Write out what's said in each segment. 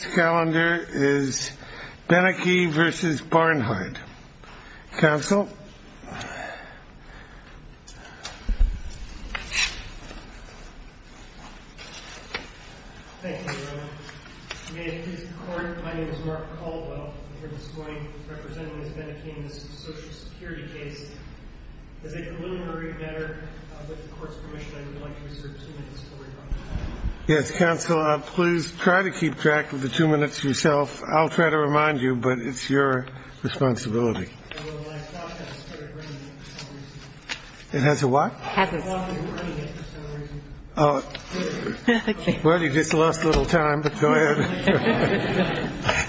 Benecke v. Barnhart Mark Caldwell v. Social Security Yes, counsel, please try to keep track of the two minutes yourself. I'll try to remind you, but it's your responsibility. It has a what? Oh, well, you just lost a little time. Go ahead.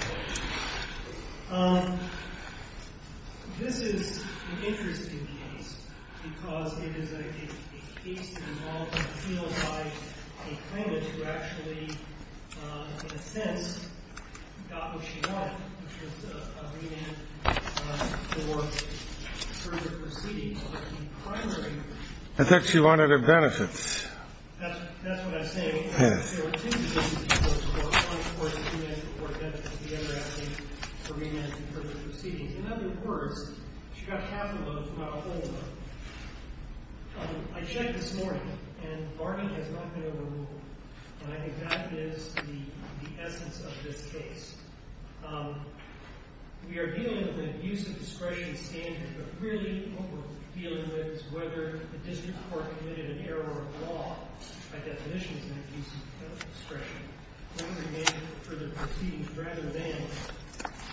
I thought she wanted her benefits. That's what I'm saying. There were two cases before the court, one before the two minutes before the benefit, the other asking for remand in terms of proceedings. In other words, she got half of them, not a whole lot. I checked this morning, and Barnhart has not been overruled. And I think that is the essence of this case. We are dealing with an abuse of discretion standard. But really what we're dealing with is whether the district court committed an error of law by definition of an abuse of discretion. Remand for the proceedings rather than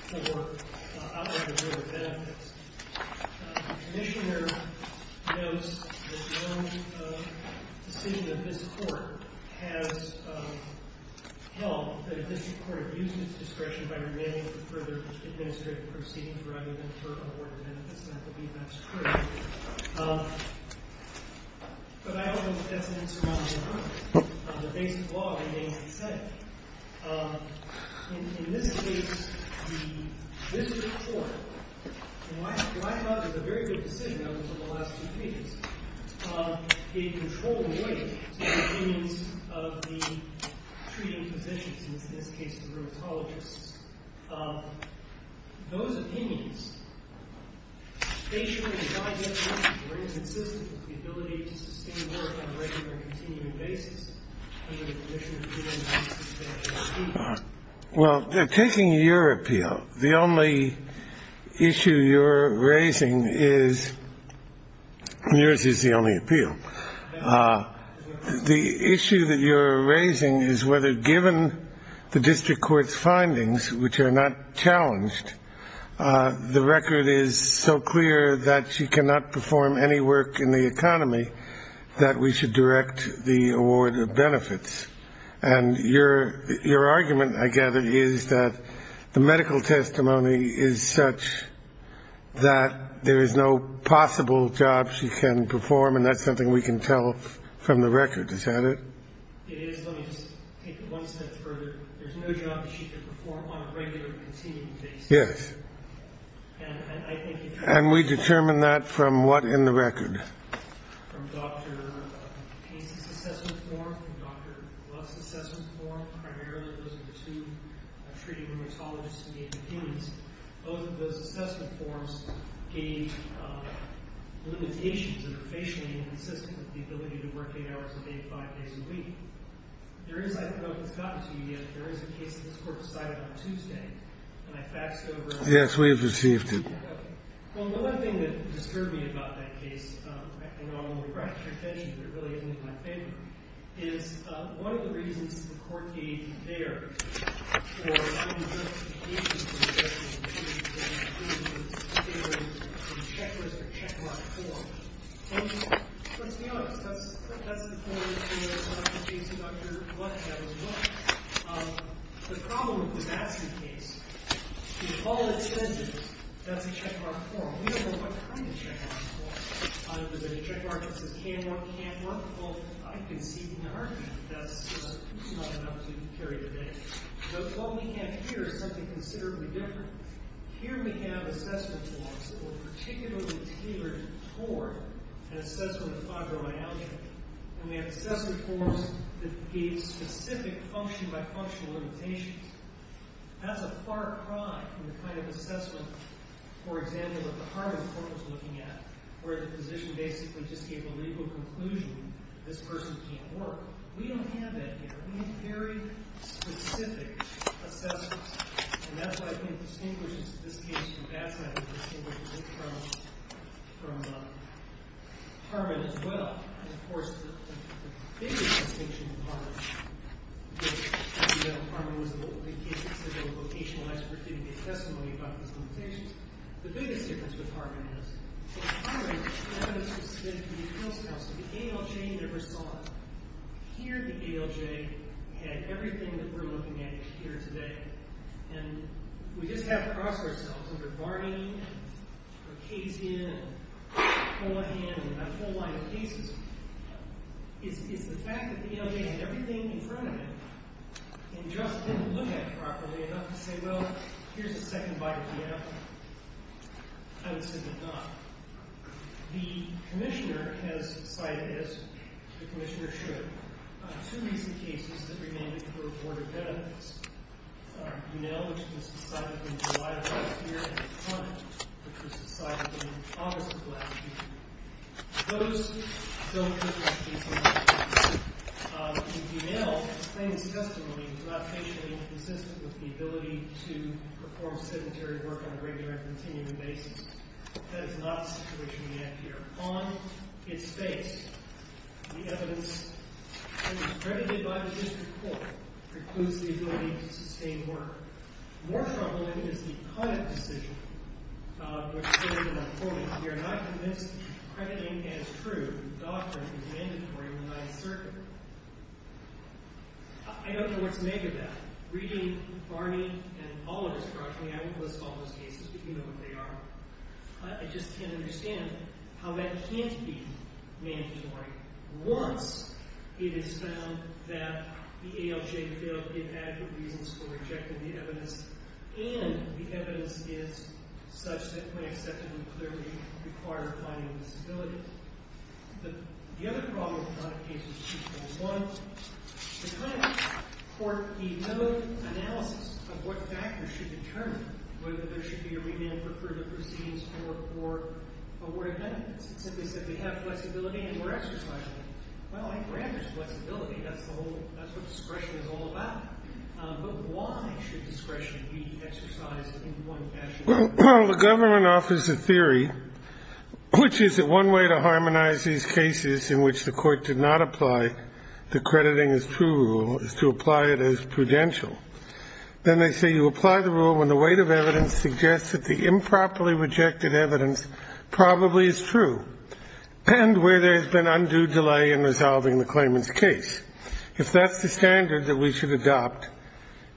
for outline of your benefits. The commissioner knows that no decision of this court has held that a district court abuses discretion by remanding for further administrative proceedings rather than for award of benefits. And I believe that's true. But I don't know if that's an insurmountable error. The basic law remains the same. In this case, the district court, and what I thought was a very good decision over the last two cases, gave controlled weight to the opinions of the treating physicians, in this case the rheumatologists. Those opinions, they should be consistent with the ability to sustain work on a regular and continuing basis. Well, they're taking your appeal. The only issue you're raising is yours is the only appeal. The issue that you're raising is whether, given the district court's findings, which are not challenged, the record is so clear that she cannot perform any work in the economy that we should direct the award of benefits. And your argument, I gather, is that the medical testimony is such that there is no possible job she can perform. And that's something we can tell from the record, is that it? It is. Let me just take it one step further. There's no job that she can perform on a regular and continuing basis. Yes. And we determined that from what in the record? From Dr. Pace's assessment form, from Dr. Gluck's assessment form. Primarily those were the two treating rheumatologists who gave opinions. Both of those assessment forms gave limitations that are facially inconsistent with the ability to work 8 hours a day, 5 days a week. There is, I don't know if it's gotten to you yet, but there is a case that this Court decided on Tuesday, and I faxed over it. Yes, we have received it. Well, another thing that disturbed me about that case, and I'll only draw your attention if it really isn't in my favor, is one of the reasons the Court gave there for allowing justification for the fact that the patient was in a checklist or checkmark form, and let's be honest, that's the point of the case of Dr. Gluck, that was one. The problem with the Batson case is all of the sentences, that's a checkmark form. We don't know what kind of checkmark form. Is it a checkmark that says can work, can't work? Well, I can see the argument that that's not an opportunity to carry today. What we have here is something considerably different. Here we have assessment forms that were particularly tailored toward an assessment of fibromyalgia, and we have assessment forms that gave specific function-by-function limitations. That's a far cry from the kind of assessment, for example, that the Harmon Court was looking at, where the physician basically just gave a legal conclusion, this person can't work. We don't have that here. We have very specific assessments, and that's what I think distinguishes this case from Batson. I think it distinguishes it from Harmon as well. And, of course, the biggest distinction in Harmon, which, as you know, Harmon was the only case that said there was vocational expertise testimony about his limitations. The biggest difference with Harmon is that Harmon had a specific defense counsel. The ALJ never saw it. Here the ALJ had everything that we're looking at here today, and we just have to cross ourselves under Barney and Ocasio and Cohen and a whole line of cases. It's the fact that the ALJ had everything in front of it and just didn't look at it properly enough to say, well, here's a second bite of the apple. I would say they've done. The commissioner has cited, as the commissioner should, two recent cases that remain to be reported benefits. Unell, which was decidedly reliable here, and Conant, which was decidedly obvious in the last few years. Those don't cover this case in much detail. In Unell, the claimant's testimony was not patiently consistent with the ability to perform sedentary work on a regular and continuing basis. That is not the situation we have here. On its face, the evidence that was credited by the district court precludes the ability to sustain work. More troubling is the Conant decision, which stated in the court, we are not convinced crediting as true the doctrine is mandatory in the Ninth Circuit. I don't know what's negative of that. Reading Barney and Ocasio-Cortez, I wouldn't list all those cases, but you know what they are. I just can't understand how that can't be mandatory once it is found that the ALJ failed to give adequate reasons for rejecting the evidence and the evidence is such that we accept it and clearly require finding a disability. The other problem with Conant's case is twofold. One, the claimant's court denoted analysis of what factors should determine whether there should be a remand for crude or pristine support for award of benefits. It simply said we have flexibility and we're exercising it. Well, I grant there's flexibility. That's what discretion is all about. But why should discretion be exercised in one fashion? Well, the government offers a theory, which is that one way to harmonize these cases in which the court did not apply the crediting as true rule is to apply it as prudential. Then they say you apply the rule when the weight of evidence suggests that the improperly rejected evidence probably is true and where there has been undue delay in resolving the claimant's case. If that's the standard that we should adopt,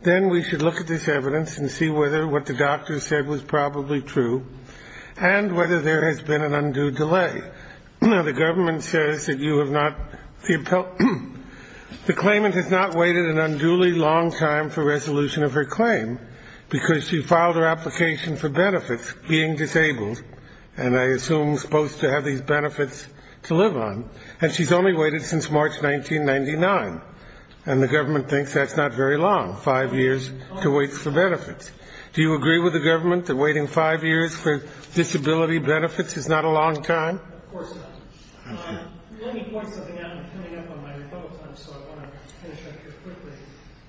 then we should look at this evidence and see whether what the doctor said was probably true and whether there has been an undue delay. Now, the government says that you have not the claimant has not waited an unduly long time for resolution of her claim because she filed her application for benefits being disabled and I assume supposed to have these benefits to live on. And she's only waited since March 1999. And the government thinks that's not very long. Five years to wait for benefits. Do you agree with the government that waiting five years for disability benefits is not a long time? Of course not. Let me point something out. I'm coming up on my rebuttal time, so I want to finish up here quickly.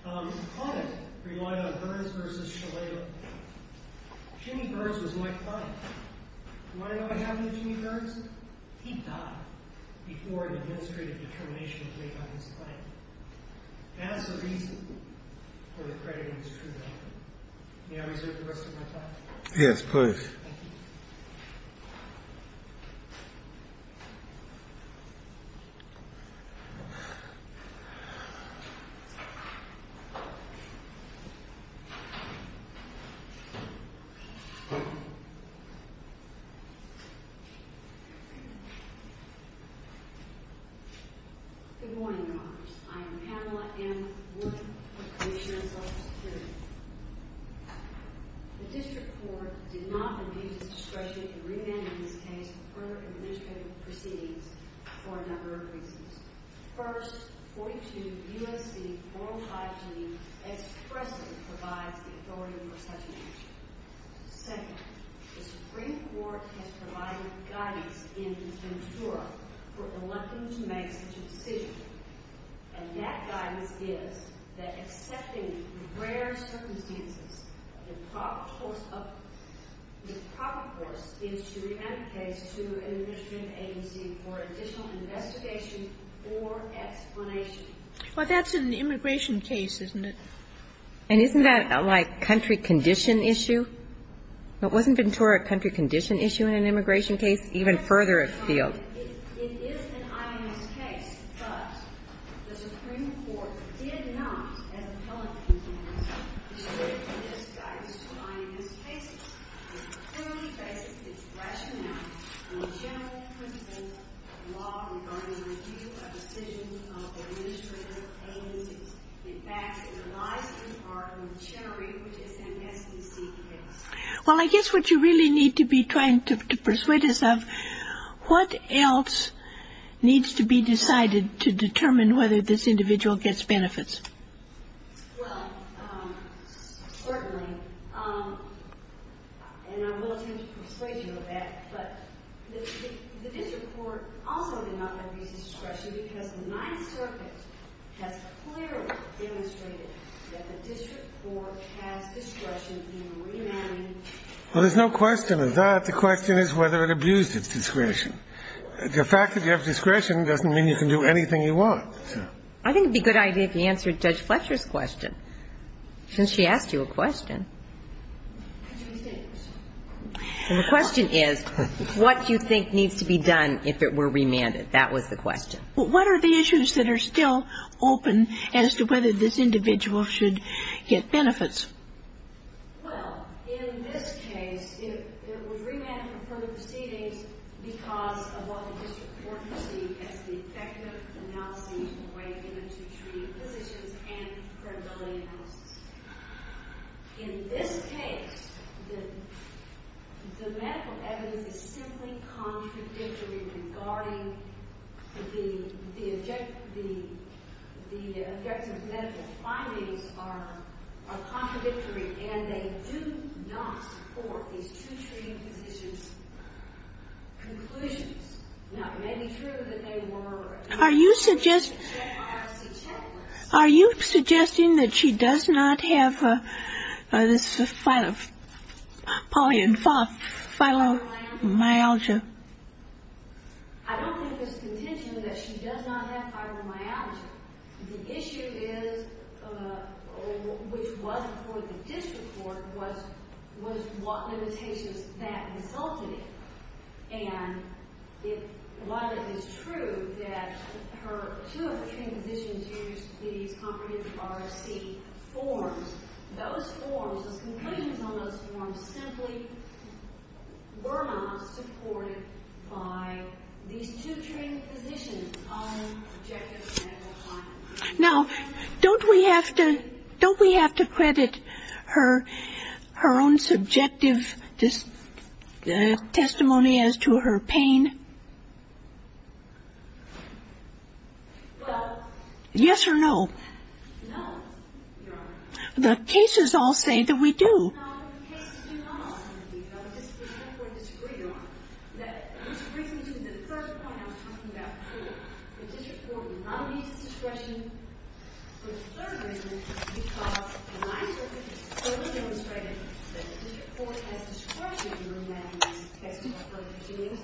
Client relied on Byrds v. Shalala. Jimmy Byrds was my client. Do you want to know what happened to Jimmy Byrds? He died before an administrative determination was made on his claim. As the reason for accrediting this true document. May I reserve the rest of my time? Yes, please. Thank you. Good morning, Your Honors. I am Pamela M. Wood, Commissioner of Social Security. The District Court did not refuse discretion to remand in this case further administrative proceedings for a number of reasons. First, 42 U.S.C. 405G expressly provides the authority for such an action. Second, the Supreme Court has provided guidance in Ventura for electing to make such a decision. And that guidance is that, accepting the rare circumstances, the proper course of the proper course is to remand the case to an administrative agency for additional investigation or explanation. Well, that's an immigration case, isn't it? And isn't that, like, country condition issue? Wasn't Ventura a country condition issue in an immigration case? Even further afield. It is an I.M.S. case, but the Supreme Court did not, as appellate convenience, Well, I guess what you really need to be trying to persuade us of, what else needs to be decided to determine whether this individual gets benefits? Well, there's no question of that. The question is whether it abused its discretion. The fact that you have discretion doesn't mean you can do anything you want. I think it would be a good idea if you answered Judge Fletcher's question. Since she asked you a question. And the question is, what do you think needs to be done if it were remanded? That was the question. But what are the issues that are still open as to whether this individual should get benefits? Well, in this case, if it was remanded for further proceedings because of what the district court received as the effective In this case, the medical evidence is simply contradictory regarding the objective medical findings are contradictory, and they do not support these two treaty positions' conclusions. Now, it may be true that they were. Are you suggesting that she does not have this polymyalgia? I don't think it's contention that she does not have polymyalgia. The issue is, which was before the district court, was what limitations that resulted in. And while it is true that her two of the treaty positions used these comprehensive RFC forms, those forms, those conclusions on those forms simply were not supported by these two treaty positions on objective medical findings. Now, don't we have to credit her own subjective testimony as to her pain? Yes or no? No, Your Honor. The cases all say that we do. No, the cases do not say that we do. I would just pretend we're disagreed on. That brings me to the first point I was talking about before. The district court would not have used discretion for the third reason because, in my opinion, it clearly demonstrated that the district court has discretion in remanding cases for further proceedings,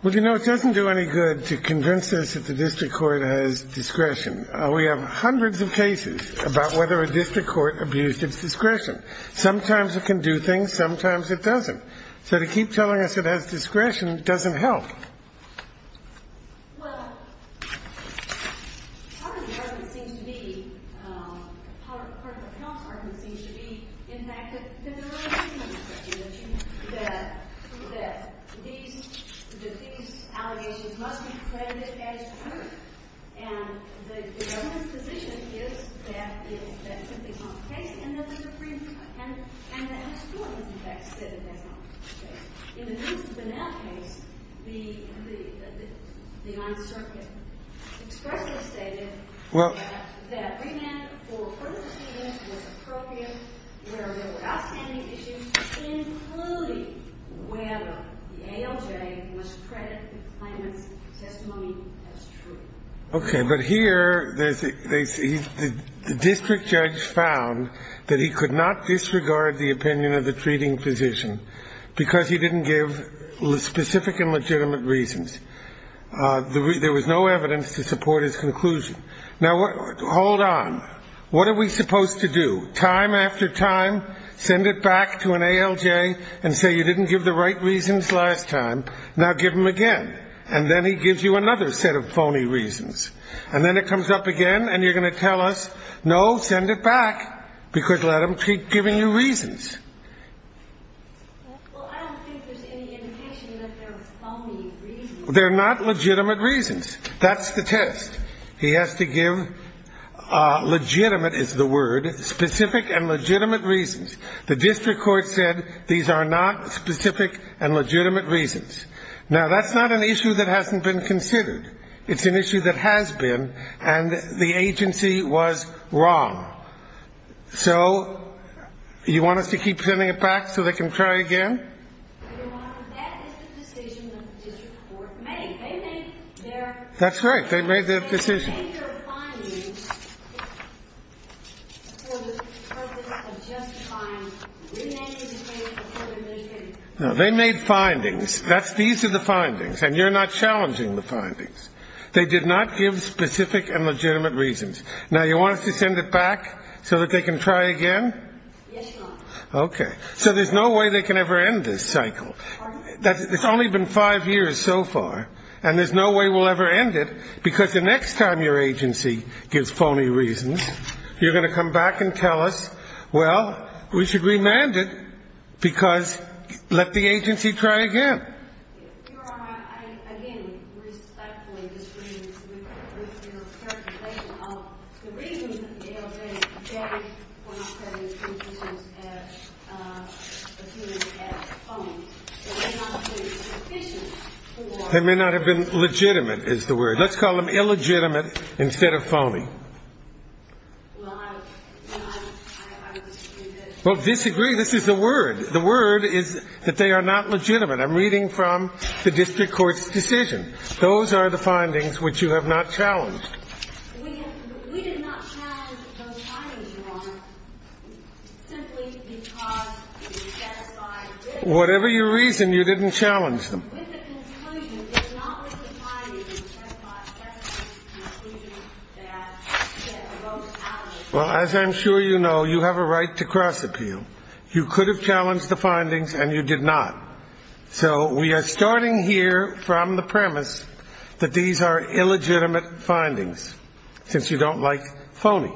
Well, you know, it doesn't do any good to convince us that the district court has discretion. We have hundreds of cases about whether a district court abused its discretion. Sometimes it can do things. Sometimes it doesn't. So to keep telling us it has discretion doesn't help. Well, part of the argument seems to be, part of the count's argument seems to be, in fact, that there really is no discretion. That these allegations must be credited as true. And the government's position is that that simply is not the case and that they were freed from it. And that the school has, in fact, said that that's not the case. Well, okay. But here, the district judge found that he could not disregard the opinion of the treating physician because he didn't give specific and legitimate reasons. There was no evidence to support his conclusion. Now, hold on. What are we supposed to do? Time after time send it back to an ALJ and say you didn't give the right reasons last time. Now give them again. And then he gives you another set of phony reasons. And then it comes up again and you're going to tell us, no, send it back, because let him keep giving you reasons. They're not legitimate reasons. That's the test. He has to give legitimate is the word, specific and legitimate reasons. The district court said these are not specific and legitimate reasons. Now, that's not an issue that hasn't been considered. It's an issue that has been. And the agency was wrong. So you want us to keep sending it back so they can try again? That's right. They made their decision. They made findings. These are the findings. And you're not challenging the findings. They did not give specific and legitimate reasons. Now, you want us to send it back so that they can try again? Yes, Your Honor. Okay. So there's no way they can ever end this cycle. Pardon? It's only been five years so far. And there's no way we'll ever end it, because the next time your agency gives phony reasons, you're going to come back and tell us, well, we should remand it, because let the agency try again. Your Honor, I, again, respectfully disagree with your interpretation of the reasons that they already gave when I said these conclusions as phony. They may not have been sufficient for. They may not have been legitimate is the word. Let's call them illegitimate instead of phony. Well, I would disagree with that. Well, disagree, this is the word. The word is that they are not legitimate. I'm reading from the district court's decision. Those are the findings which you have not challenged. We did not challenge those findings, Your Honor, simply because it is satisfied. Whatever your reason, you didn't challenge them. With the conclusion, it's not with the findings, it's just my presumptive conclusion that they're both valid. Well, as I'm sure you know, you have a right to cross-appeal. You could have challenged the findings, and you did not. So we are starting here from the premise that these are illegitimate findings, since you don't like phony.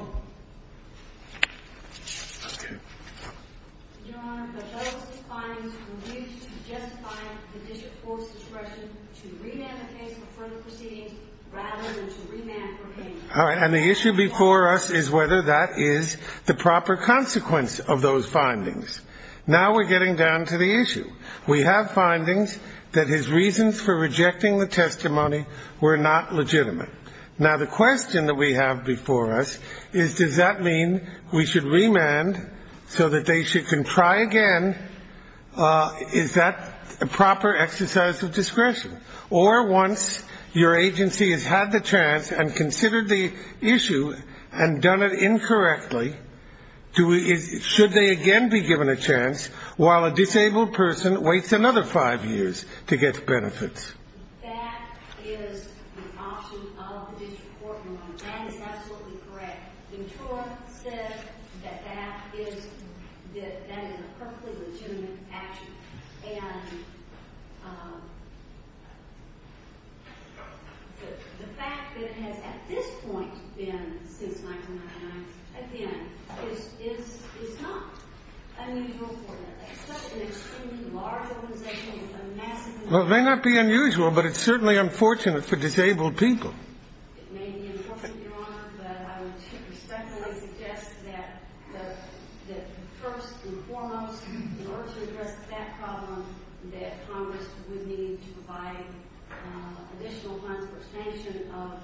Your Honor, but those findings were used to justify the district court's decision to remand the case for further proceedings rather than to remand for payment. And the issue before us is whether that is the proper consequence of those findings. Now we're getting down to the issue. We have findings that his reasons for rejecting the testimony were not legitimate. Now the question that we have before us is, does that mean we should remand so that they can try again? Is that a proper exercise of discretion? Or once your agency has had the chance and considered the issue and done it incorrectly, should they again be given a chance while a disabled person waits another five years to get benefits? That is the option of the district court, Your Honor, and is absolutely correct. Well, it may not be unusual, but it's certainly unfortunate for disabled people. It may be unfortunate, Your Honor, but I would respectfully suggest that first and foremost, in order to address that problem, that Congress would need to provide additional funds for expansion of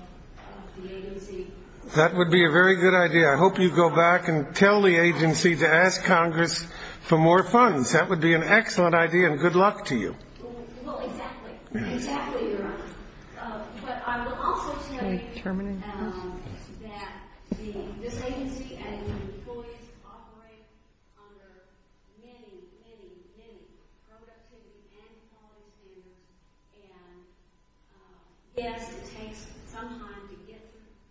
the agency. That would be a very good idea. I hope you go back and tell the agency to ask Congress for more funds. That would be an excellent idea, and good luck to you. Well, exactly. Exactly, Your Honor. But I will also say that this agency and its employees operate under many, many, many productivity and quality standards, and yes, it takes some time to get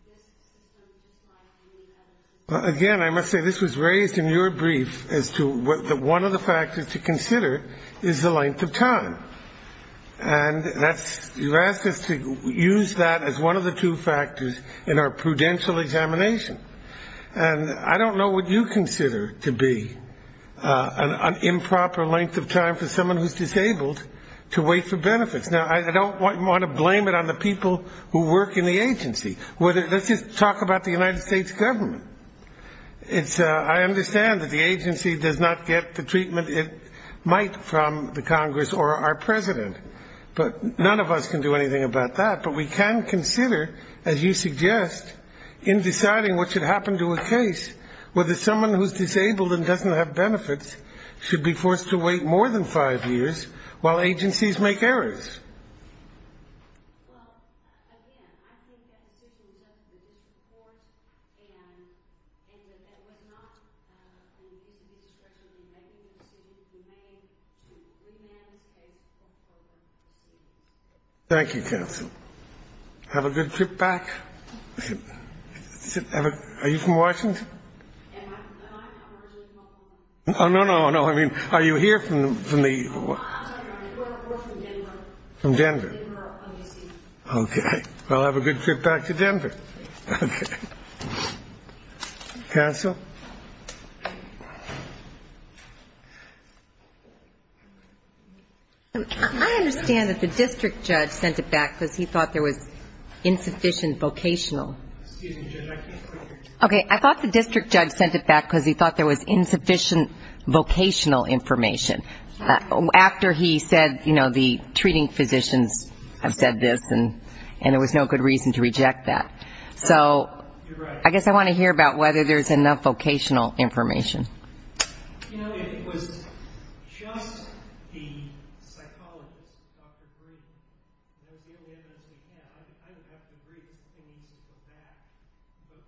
this system to thrive. Again, I must say, this was raised in your brief as to one of the factors to consider is the length of time. And you asked us to use that as one of the two factors in our prudential examination. And I don't know what you consider to be an improper length of time for someone who's disabled to wait for benefits. Now, I don't want to blame it on the people who work in the agency. Let's just talk about the United States government. I understand that the agency does not get the treatment it might from the Congress or our president. But none of us can do anything about that. But we can consider, as you suggest, in deciding what should happen to a case, whether someone who's disabled and doesn't have benefits should be forced to wait more than five years while agencies make errors. Well, again, I think that this is just a brief report, and that that was not an easy discretion to make. And as soon as we may, we may have to take some further decisions. Thank you, counsel. Have a good trip back. Are you from Washington? Am I? I'm originally from Oklahoma. Oh, no, no, no. I mean, are you here from the... We're from Denver. From Denver. Okay. Well, have a good trip back to Denver. Okay. Counsel? I understand that the district judge sent it back because he thought there was insufficient vocational. Excuse me, Judge, I can't hear you. Okay. I thought the district judge sent it back because he thought there was insufficient vocational information. After he said, you know, the treating physicians have said this, and there was no good reason to reject that. So I guess I want to hear about whether there's enough vocational information. You know, if it was just the psychologist, Dr. Green, that would be the only evidence we have. I would have to agree with any sense of that. But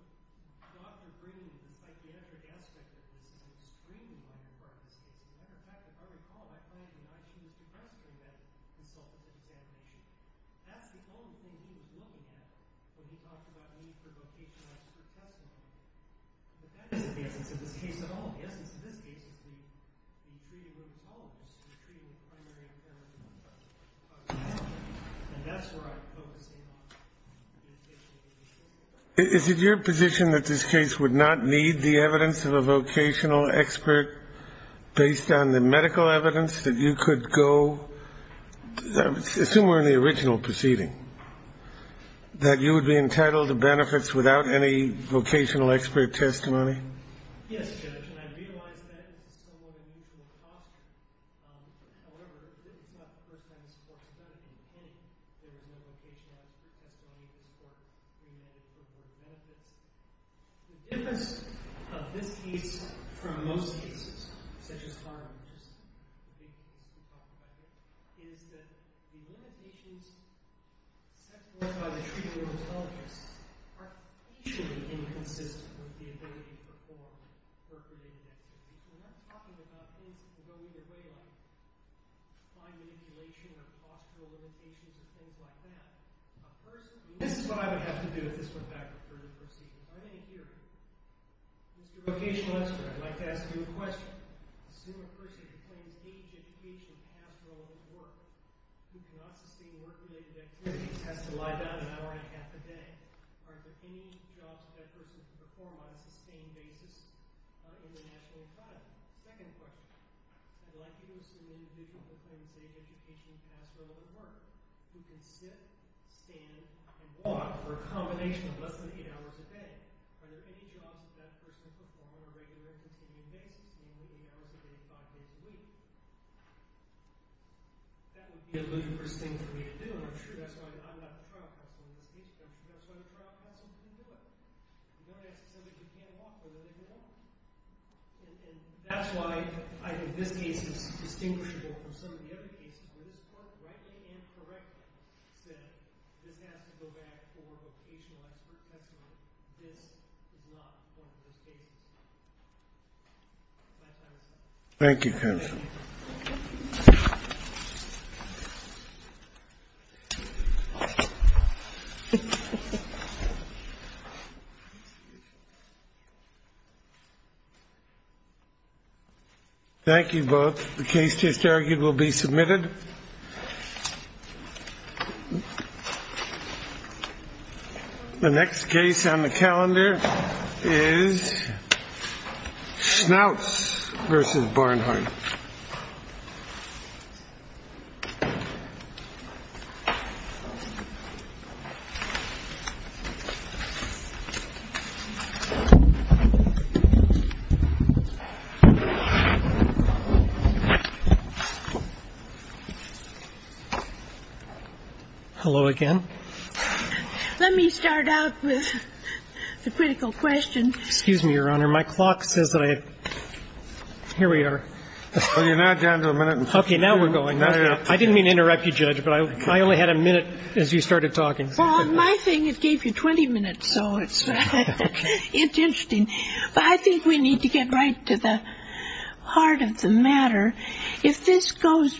Dr. Green, it's like the other aspect of this. He's screaming on the court. As a matter of fact, if I recall, I find that I choose preferentially that result of the examination. That's the only thing he was willing to have when he talked about a need for vocational instruction. But that isn't the essence of this case at all. The essence of this case is we treat it with the politics. We treat it with primary intelligence. And that's where I'm focusing on. Is it your position that this case would not need the evidence of a vocational expert, based on the medical evidence, that you could go, assume we're in the original proceeding, that you would be entitled to benefits without any vocational expert testimony? Yes, Judge. And I realize that is somewhat unusual posture. However, this is not the first time this Court has done it, and I think there is no vocational expert testimony in the Court in relation to the benefits. The difference of this case from most cases, such as Harvard, is that the limitations set forth by the treatment of intelligence are patiently inconsistent with the ability to perform work within the activity. And I'm talking about things that go either way, like fine manipulation or postural limitations, or things like that. This is what I would have to do if this went back a further proceeding. If I may interrupt, Mr. Vocational Expert, I'd like to ask you a question. First question. Assume a person who claims age, education, and past relevant work, who cannot sustain work-related activities, has to lie down an hour and a half a day. Are there any jobs that that person can perform on a sustained basis in the national environment? Second question. I'd like you to assume an individual who claims age, education, and past relevant work, who can sit, stand, and walk for a combination of less than eight hours a day. Are there any jobs that that person can perform on a regular, continuing basis, meaning living hours of 85 days a week? That would be a ludicrous thing for me to do, I'm sure. That's why I'm not the trial counsel in this case. That's why the trial counsel can do it. You want to ask somebody who can't walk, they're willing to walk. And that's why I think this case is distinguishable from some of the other cases where this court rightly and correctly said, this has to go back for a vocational expert testimony. This is not one of those cases. My time is up. Thank you, counsel. Thank you both. The case just argued will be submitted. The next case on the calendar is Schnauz versus Barnhart. Hello again. Let me start out with the critical question. Excuse me, Your Honor. My clock says that I... Here we are. Well, you're not down to a minute. Okay, now we're going. I didn't mean to interrupt you, Judge, but I only had a minute as you started talking. Well, my thing, it gave you 20 minutes, so it's interesting. But I think we need to get right to the heart of the matter. If this goes...